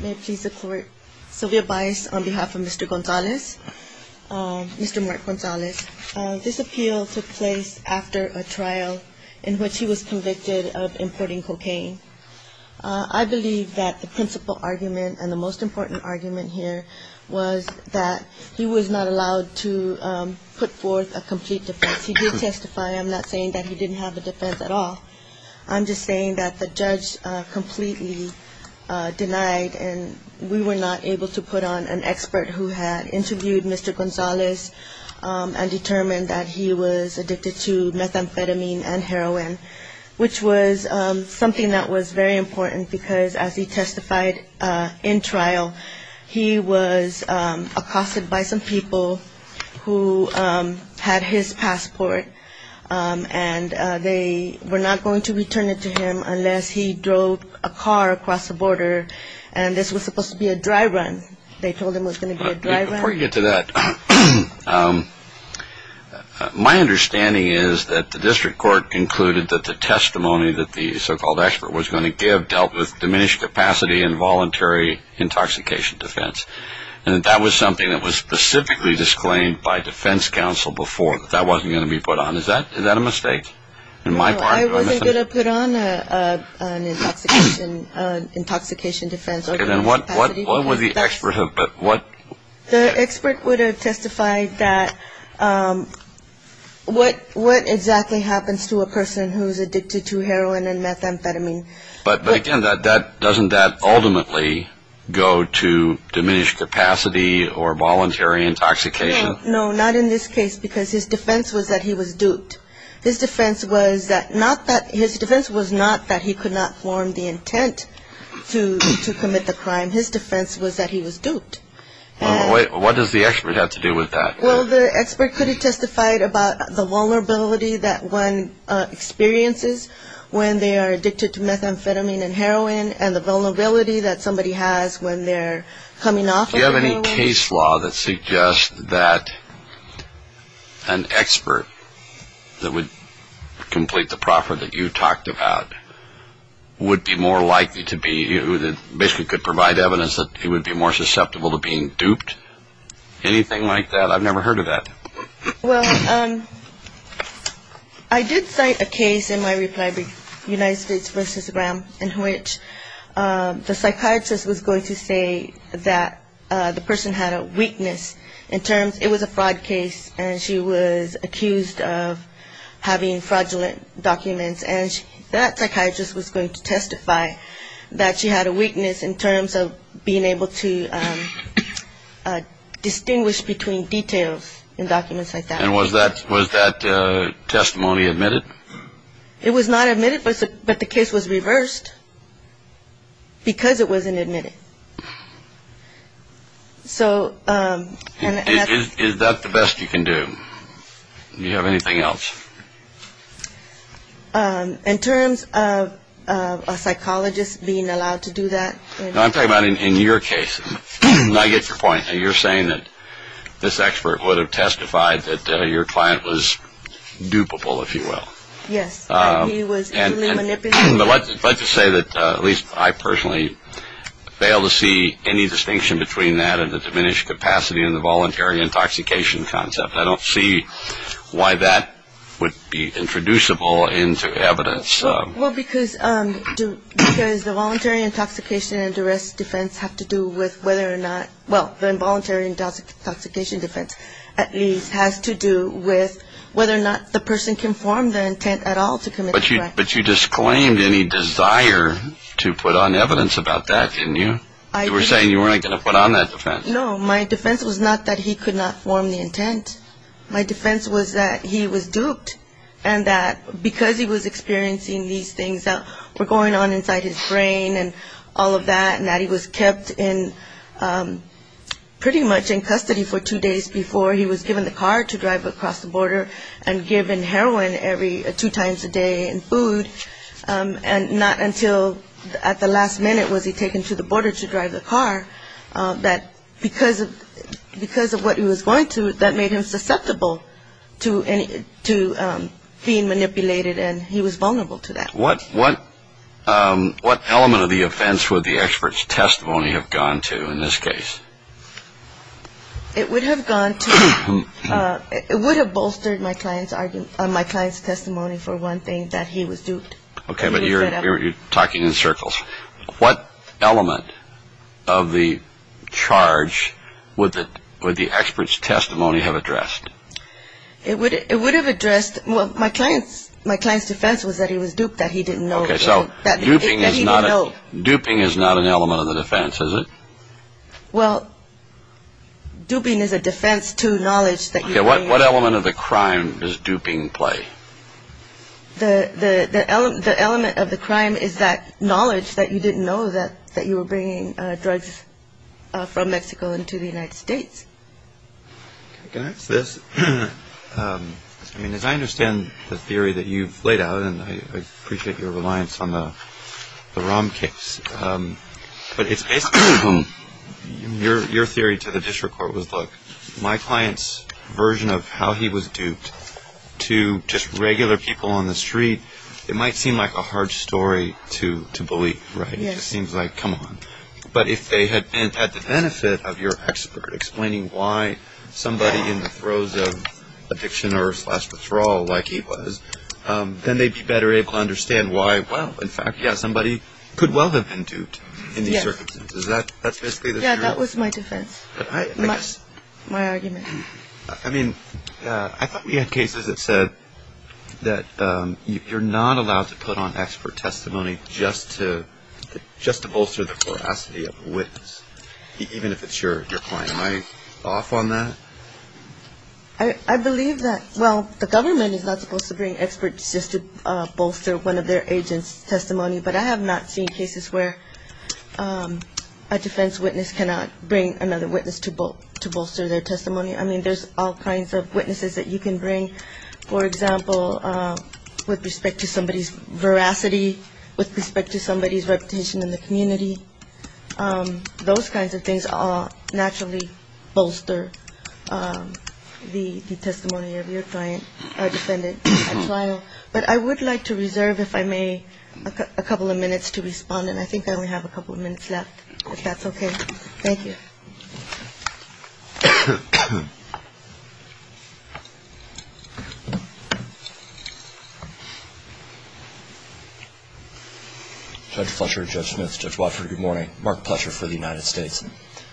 May it please the court. Sylvia Baez on behalf of Mr. Gonzales, Mr. Mark Gonzales. This appeal took place after a trial in which he was convicted of importing cocaine. I believe that the principal argument and the most important argument here was that he was not allowed to put forth a complete defense. He did testify. I'm not saying that he didn't have a defense at all. I'm just saying that the judge completely denied and we were not able to put on an expert who had interviewed Mr. Gonzales and determined that he was addicted to methamphetamine and heroin, which was something that was very important because as he testified in trial, he was accosted by some people who had his passport and they were not going to return it to him unless he drove a car across the border and this was suppose to be a dry run. They told him it was going to be a dry run. My understanding is that the district court concluded that the testimony that the so-called expert was going to give dealt with diminished capacity and voluntary intoxication defense and that was something that was specifically disclaimed by defense counsel before that that wasn't going to be put on. Is that a mistake? No, I wasn't going to put on an intoxication defense And what would the expert have The expert would have testified that what exactly happens to a person who is addicted to heroin and methamphetamine But again, doesn't that ultimately go to diminished capacity or voluntary intoxication No, not in this case because his defense was that he was duped. His defense was not that he could not form the intent to commit Well, what does the expert have to do with that? Well, the expert could have testified about the vulnerability that one experiences when they are addicted to methamphetamine and heroin and the vulnerability that somebody has when they're coming off of heroin Do you have any case law that suggests that an expert that would complete the proffer that you talked about would be more likely to be, basically could put on an intoxication defense? Provide evidence that it would be more susceptible to being duped? Anything like that? I've never heard of that Well, I did cite a case in my reply to United States versus Graham in which the psychiatrist was going to say that the person had a weakness in terms it was a fraud case and she was accused of having fraudulent documents And that psychiatrist was going to testify that she had a weakness in terms of being able to distinguish between details in documents like that And was that testimony admitted? It was not admitted, but the case was reversed because it wasn't admitted Is that the best you can do? Do you have anything else? In terms of a psychologist being allowed to do that I'm talking about in your case, and I get your point, you're saying that this expert would have testified that your client was dupable, if you will Yes, he was extremely manipulative But let's just say that, at least I personally, fail to see any distinction between that and the diminished capacity and the voluntary intoxication concept I don't see why that would be introducible into evidence Well, because the voluntary intoxication and arrest defense have to do with whether or not, well, the involuntary intoxication defense at least has to do with whether or not the person conformed the intent at all to commit the crime But you disclaimed any desire to put on evidence about that, didn't you? You were saying you weren't going to put on that defense No, my defense was not that he could not form the intent My defense was that he was duped and that because he was experiencing these things that were going on inside his brain and all of that And that he was kept pretty much in custody for two days before he was given the car to drive across the border and given heroin two times a day and food And not until at the last minute was he taken to the border to drive the car That because of what he was going through, that made him susceptible to being manipulated and he was vulnerable to that What element of the offense would the expert's testimony have gone to in this case? It would have bolstered my client's testimony for one thing, that he was duped Okay, but you're talking in circles What element of the charge would the expert's testimony have addressed? My client's defense was that he was duped, that he didn't know Okay, so duping is not an element of the defense, is it? Well, duping is a defense to knowledge Okay, what element of the crime does duping play? The element of the crime is that knowledge that you didn't know that you were bringing drugs from Mexico into the United States Can I ask this? I mean, as I understand the theory that you've laid out, and I appreciate your reliance on the Rahm case But it's basically your theory to the district court was, look, my client's version of how he was duped to just regular people on the street It might seem like a hard story to believe, right? It just seems like, come on But if they had had the benefit of your expert explaining why somebody in the throes of addiction or slash withdrawal, like he was Then they'd be better able to understand why, well, in fact, yeah, somebody could well have been duped in these circumstances That's basically the theory Yeah, that was my defense, my argument I mean, I thought we had cases that said that you're not allowed to put on expert testimony just to bolster the veracity of a witness Even if it's your client Am I off on that? I believe that, well, the government is not supposed to bring experts just to bolster one of their agents' testimony But I have not seen cases where a defense witness cannot bring another witness to bolster their testimony I mean, there's all kinds of witnesses that you can bring For example, with respect to somebody's veracity, with respect to somebody's reputation in the community Those kinds of things all naturally bolster the testimony of your client or defendant at trial But I would like to reserve, if I may, a couple of minutes to respond And I think I only have a couple of minutes left, if that's okay Judge Fletcher, Judge Smith, Judge Watford, good morning Mark Fletcher for the United States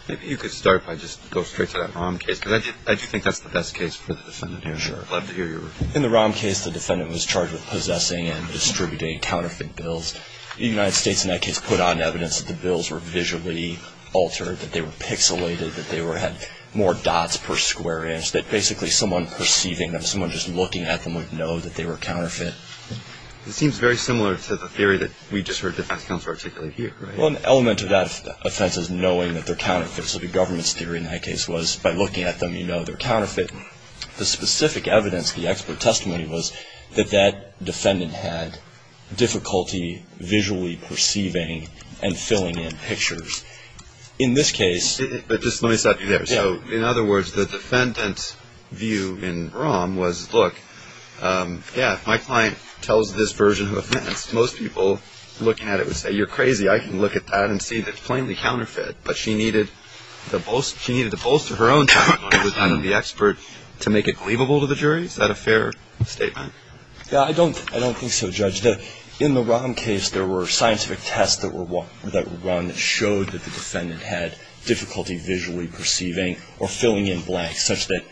Maybe you could start by just going straight to that ROM case Because I do think that's the best case for the defendant here Sure I'd love to hear your review Sure In the ROM case, the defendant was charged with possessing and distributing counterfeit bills The United States in that case put on evidence that the bills were visually altered That they were pixelated, that they had more dots per square inch That basically someone perceiving them, someone just looking at them would know that they were counterfeit It seems very similar to the theory that we just heard the defense counsel articulate here, right? Well, an element of that offense is knowing that they're counterfeit So the government's theory in that case was, by looking at them, you know they're counterfeit The specific evidence, the expert testimony was that that defendant had difficulty visually perceiving and filling in pictures In this case But just let me stop you there Yeah So in other words, the defendant's view in ROM was, look, yeah, my client tells this version of offense Most people looking at it would say, you're crazy, I can look at that and see that it's plainly counterfeit But she needed to bolster her own testimony with the expert to make it believable to the jury? Is that a fair statement? Yeah, I don't think so, Judge In the ROM case, there were scientific tests that were run that showed that the defendant had difficulty visually perceiving Or filling in blanks such that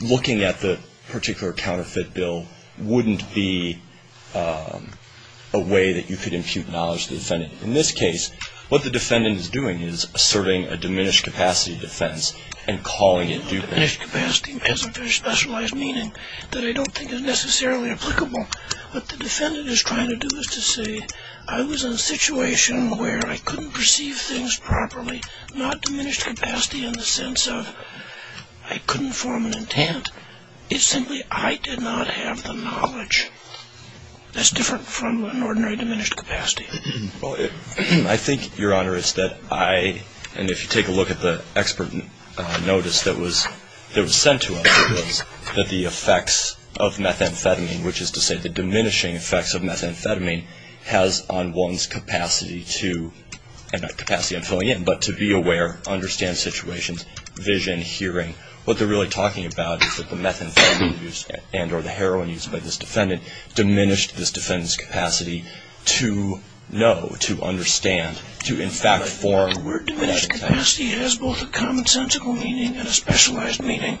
looking at the particular counterfeit bill wouldn't be a way that you could impute knowledge to the defendant In this case, what the defendant is doing is asserting a diminished capacity defense and calling it duplicitous Diminished capacity has a very specialized meaning that I don't think is necessarily applicable What the defendant is trying to do is to say, I was in a situation where I couldn't perceive things properly Not diminished capacity in the sense of, I couldn't form an intent It's simply, I did not have the knowledge That's different from an ordinary diminished capacity I think, Your Honor, it's that I, and if you take a look at the expert notice that was sent to us It was that the effects of methamphetamine, which is to say the diminishing effects of methamphetamine Has on one's capacity to, and not capacity of filling in, but to be aware, understand situations, vision, hearing What they're really talking about is that the methamphetamine use and or the heroin use by this defendant Diminished this defendant's capacity to know, to understand, to in fact form The word diminished capacity has both a commonsensical meaning and a specialized meaning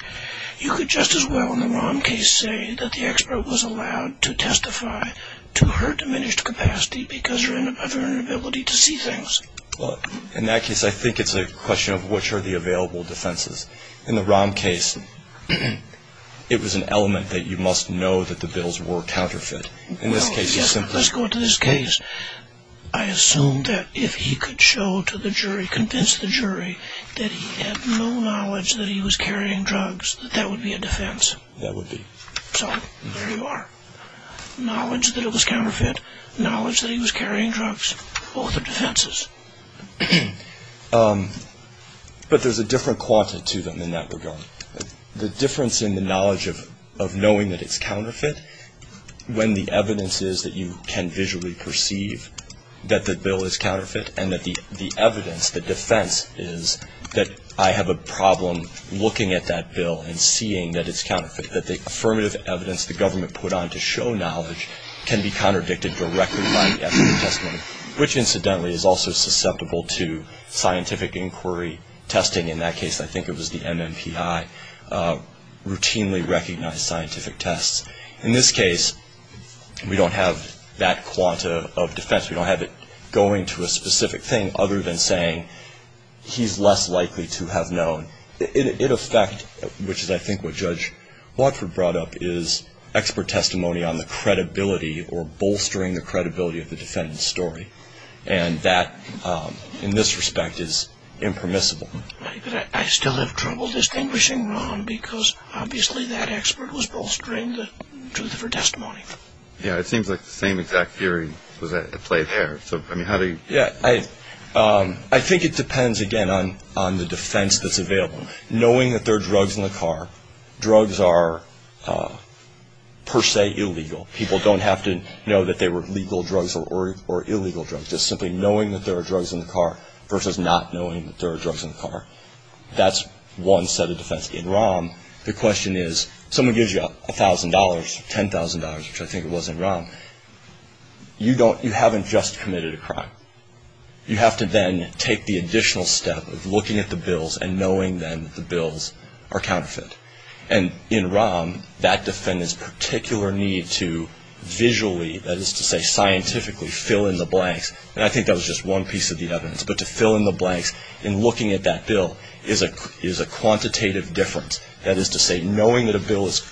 You could just as well in the ROM case say that the expert was allowed to testify to her diminished capacity Because of her inability to see things In that case, I think it's a question of which are the available defenses In the ROM case, it was an element that you must know that the bills were counterfeit In this case, it's simply Let's go to this case I assume that if he could show to the jury, convince the jury That he had no knowledge that he was carrying drugs, that that would be a defense That would be So, there you are Knowledge that it was counterfeit, knowledge that he was carrying drugs, both are defenses But there's a different quality to them in that regard The difference in the knowledge of knowing that it's counterfeit When the evidence is that you can visually perceive that the bill is counterfeit And that the evidence, the defense is that I have a problem looking at that bill And seeing that it's counterfeit That the affirmative evidence the government put on to show knowledge Can be contradicted directly by the expert testimony Which incidentally is also susceptible to scientific inquiry testing In that case, I think it was the MMPI routinely recognized scientific tests In this case, we don't have that quanta of defense We don't have it going to a specific thing other than saying he's less likely to have known It affect, which is I think what Judge Watford brought up Expert testimony on the credibility or bolstering the credibility of the defendant's story And that in this respect is impermissible I still have trouble distinguishing wrong Because obviously that expert was bolstering the truth of her testimony Yeah, it seems like the same exact theory was at play there I think it depends again on the defense that's available Knowing that there are drugs in the car Drugs are per se illegal People don't have to know that they were legal drugs or illegal drugs Just simply knowing that there are drugs in the car Versus not knowing that there are drugs in the car That's one set of defense In ROM, the question is someone gives you a thousand dollars, ten thousand dollars Which I think it was in ROM You haven't just committed a crime You have to then take the additional step of looking at the bills And knowing then that the bills are counterfeit And in ROM, that defendant's particular need to visually That is to say scientifically fill in the blanks And I think that was just one piece of the evidence But to fill in the blanks in looking at that bill is a quantitative difference That is to say knowing that a bill is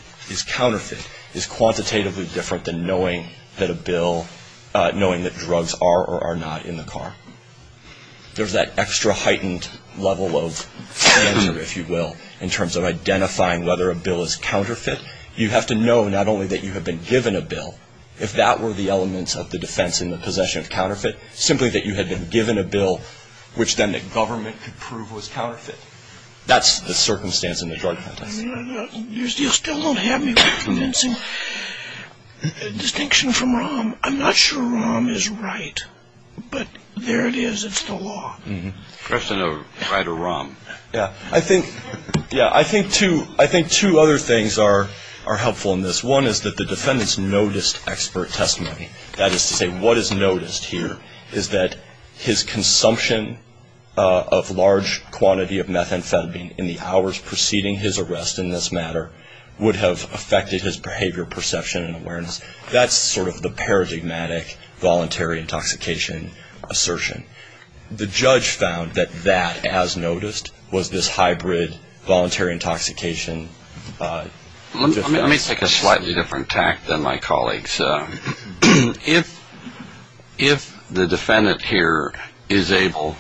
counterfeit Is quantitatively different than knowing that a bill Knowing that drugs are or are not in the car There's that extra heightened level of danger if you will In terms of identifying whether a bill is counterfeit You have to know not only that you have been given a bill If that were the elements of the defense in the possession of counterfeit Simply that you had been given a bill Which then the government could prove was counterfeit That's the circumstance in the drug contest You still don't have me convincing Distinction from ROM I'm not sure ROM is right But there it is, it's the law Question of right or wrong I think two other things are helpful in this One is that the defendants noticed expert testimony That is to say what is noticed here Is that his consumption of large quantity of methamphetamine In the hours preceding his arrest in this matter Would have affected his behavior perception and awareness That's sort of the paradigmatic voluntary intoxication assertion The judge found that that as noticed Was this hybrid voluntary intoxication defense Let me take a slightly different tact than my colleagues If the defendant here is able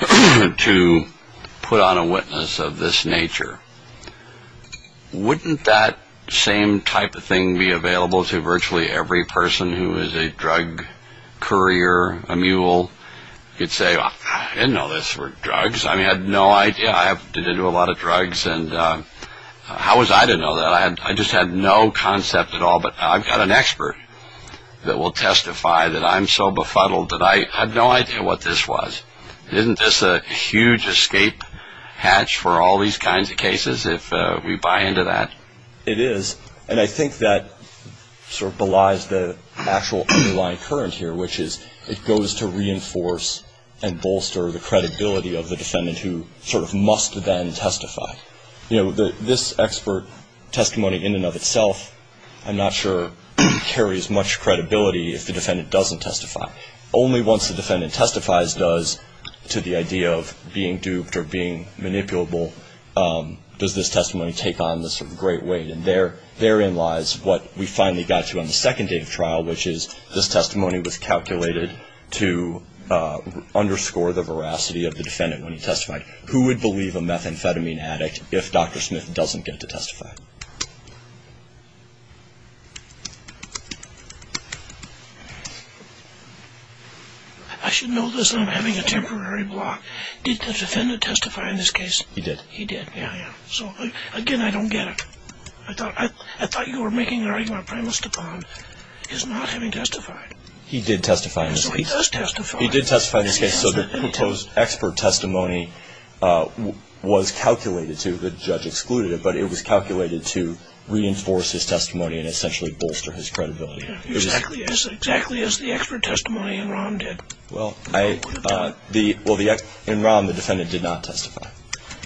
to put on a witness of this nature Wouldn't that same type of thing be available to virtually every person Who is a drug courier, a mule You'd say, I didn't know this were drugs I had no idea, I've been into a lot of drugs How was I to know that? I just had no concept at all But I've got an expert that will testify That I'm so befuddled that I had no idea what this was Isn't this a huge escape hatch for all these kinds of cases If we buy into that? It is And I think that sort of belies the actual underlying current here Which is it goes to reinforce and bolster the credibility of the defendant Who sort of must then testify You know, this expert testimony in and of itself I'm not sure carries much credibility if the defendant doesn't testify Only once the defendant testifies does To the idea of being duped or being manipulable Does this testimony take on this sort of great weight And therein lies what we finally got to on the second day of trial Which is this testimony was calculated to underscore the veracity of the defendant when he testified Who would believe a methamphetamine addict if Dr. Smith doesn't get to testify? I should know this and I'm having a temporary block Did the defendant testify in this case? He did He did, yeah, yeah So again, I don't get it I thought you were making an argument Prime Minister Pond is not having testified He did testify So he does testify He did testify in this case So the proposed expert testimony was calculated to The judge excluded it But it was calculated to reinforce his testimony And essentially bolster his credibility Exactly as the expert testimony in ROM did Well, in ROM the defendant did not testify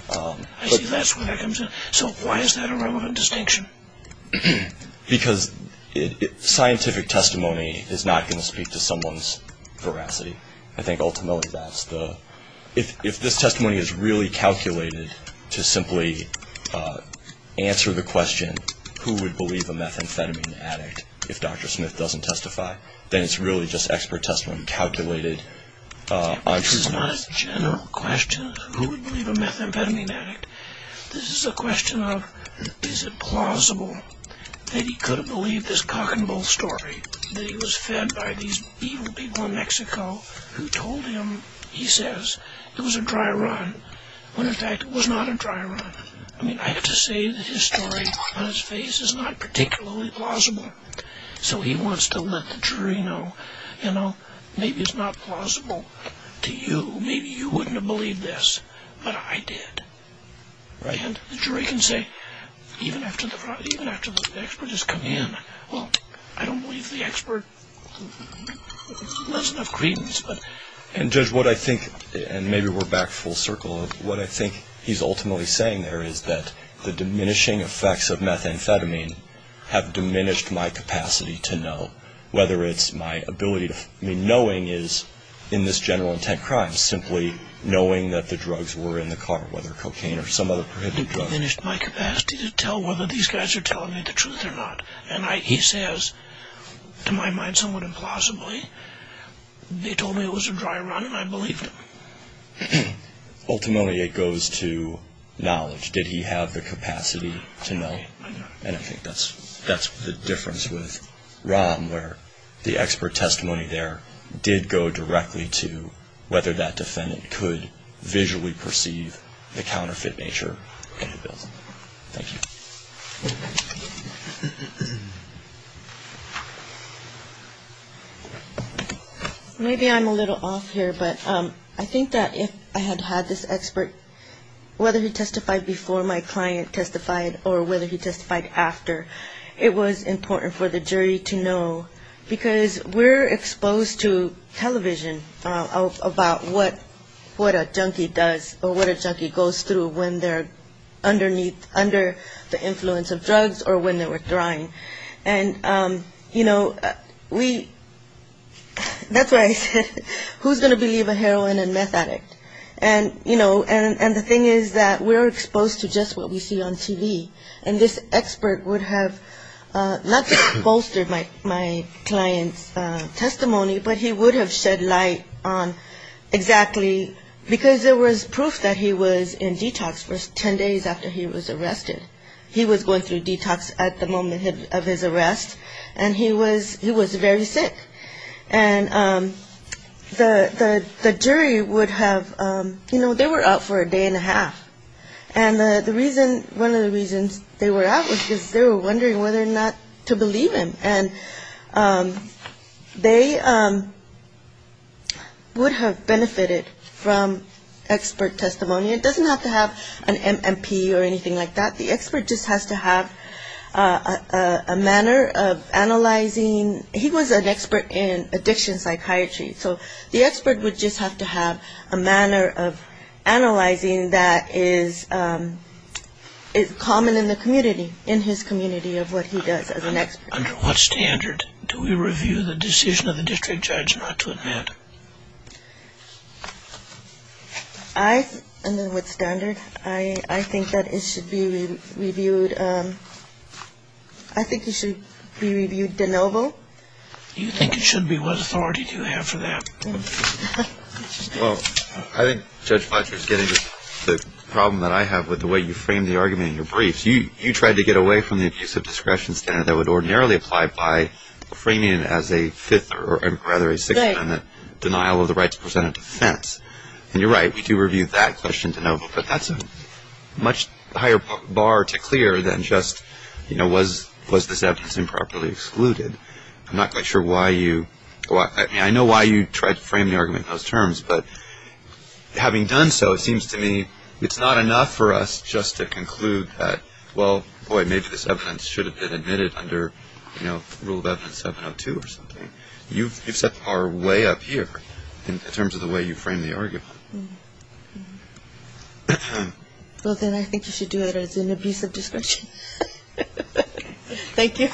I see, that's where that comes in So why is that a relevant distinction? Because scientific testimony is not going to speak to someone's veracity I think ultimately that's the If this testimony is really calculated to simply answer the question Who would believe a methamphetamine addict if Dr. Smith doesn't testify? Then it's really just expert testimony calculated This is not a general question Who would believe a methamphetamine addict? This is a question of Is it plausible that he could have believed this cock and bull story? That he was fed by these evil people in Mexico Who told him, he says, it was a dry run When in fact it was not a dry run I have to say that his story on his face is not particularly plausible So he wants to let the jury know Maybe it's not plausible to you Maybe you wouldn't have believed this But I did And the jury can say Even after the expert has come in Well, I don't believe the expert Lends enough credence And judge, what I think And maybe we're back full circle What I think he's ultimately saying there is that The diminishing effects of methamphetamine Have diminished my capacity to know Whether it's my ability to Knowing is, in this general intent crime Simply knowing that the drugs were in the car Whether cocaine or some other prohibited drug It diminished my capacity to tell Whether these guys are telling me the truth or not And he says To my mind somewhat implausibly They told me it was a dry run and I believed them Ultimately it goes to knowledge Did he have the capacity to know? And I think that's the difference with Rom Where the expert testimony there Did go directly to Whether that defendant could visually perceive The counterfeit nature in the bill Thank you Maybe I'm a little off here But I think that if I had had this expert Whether he testified before my client testified Or whether he testified after It was important for the jury to know Because we're exposed to television About what a junkie does Or what a junkie goes through When they're under the influence of drugs And, you know, we That's why I said Who's going to believe a heroin and meth addict? And the thing is that we're exposed to just what we see on TV And this expert would have Not just bolstered my client's testimony But he would have shed light on exactly Because there was proof that he was in detox For 10 days after he was arrested He was going through detox at the moment of his arrest And he was very sick And the jury would have You know, they were out for a day and a half And one of the reasons they were out Was because they were wondering whether or not to believe him And they would have benefited from expert testimony It doesn't have to have an MMP or anything like that The expert just has to have a manner of analyzing He was an expert in addiction psychiatry So the expert would just have to have a manner of analyzing That is common in the community In his community of what he does as an expert Under what standard do we review the decision of the district judge not to admit? Under what standard? I think that it should be reviewed I think it should be reviewed de novo You think it should be? What authority do you have for that? Well, I think Judge Fletcher is getting the problem that I have With the way you framed the argument in your brief You tried to get away from the abuse of discretion standard That would ordinarily apply by framing it as a fifth Or rather a sixth amendment Denial of the right to present a defense And you're right, we do review that question de novo But that's a much higher bar to clear Than just was this evidence improperly excluded I'm not quite sure why you I know why you tried to frame the argument in those terms But having done so, it seems to me It's not enough for us just to conclude that Well, boy, maybe this evidence should have been admitted Under rule of evidence 702 or something You've set our way up here In terms of the way you framed the argument Well, then I think you should do it as an abuse of discretion Thank you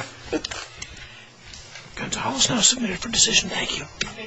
Gunter Hollis now submitted for decision. Thank you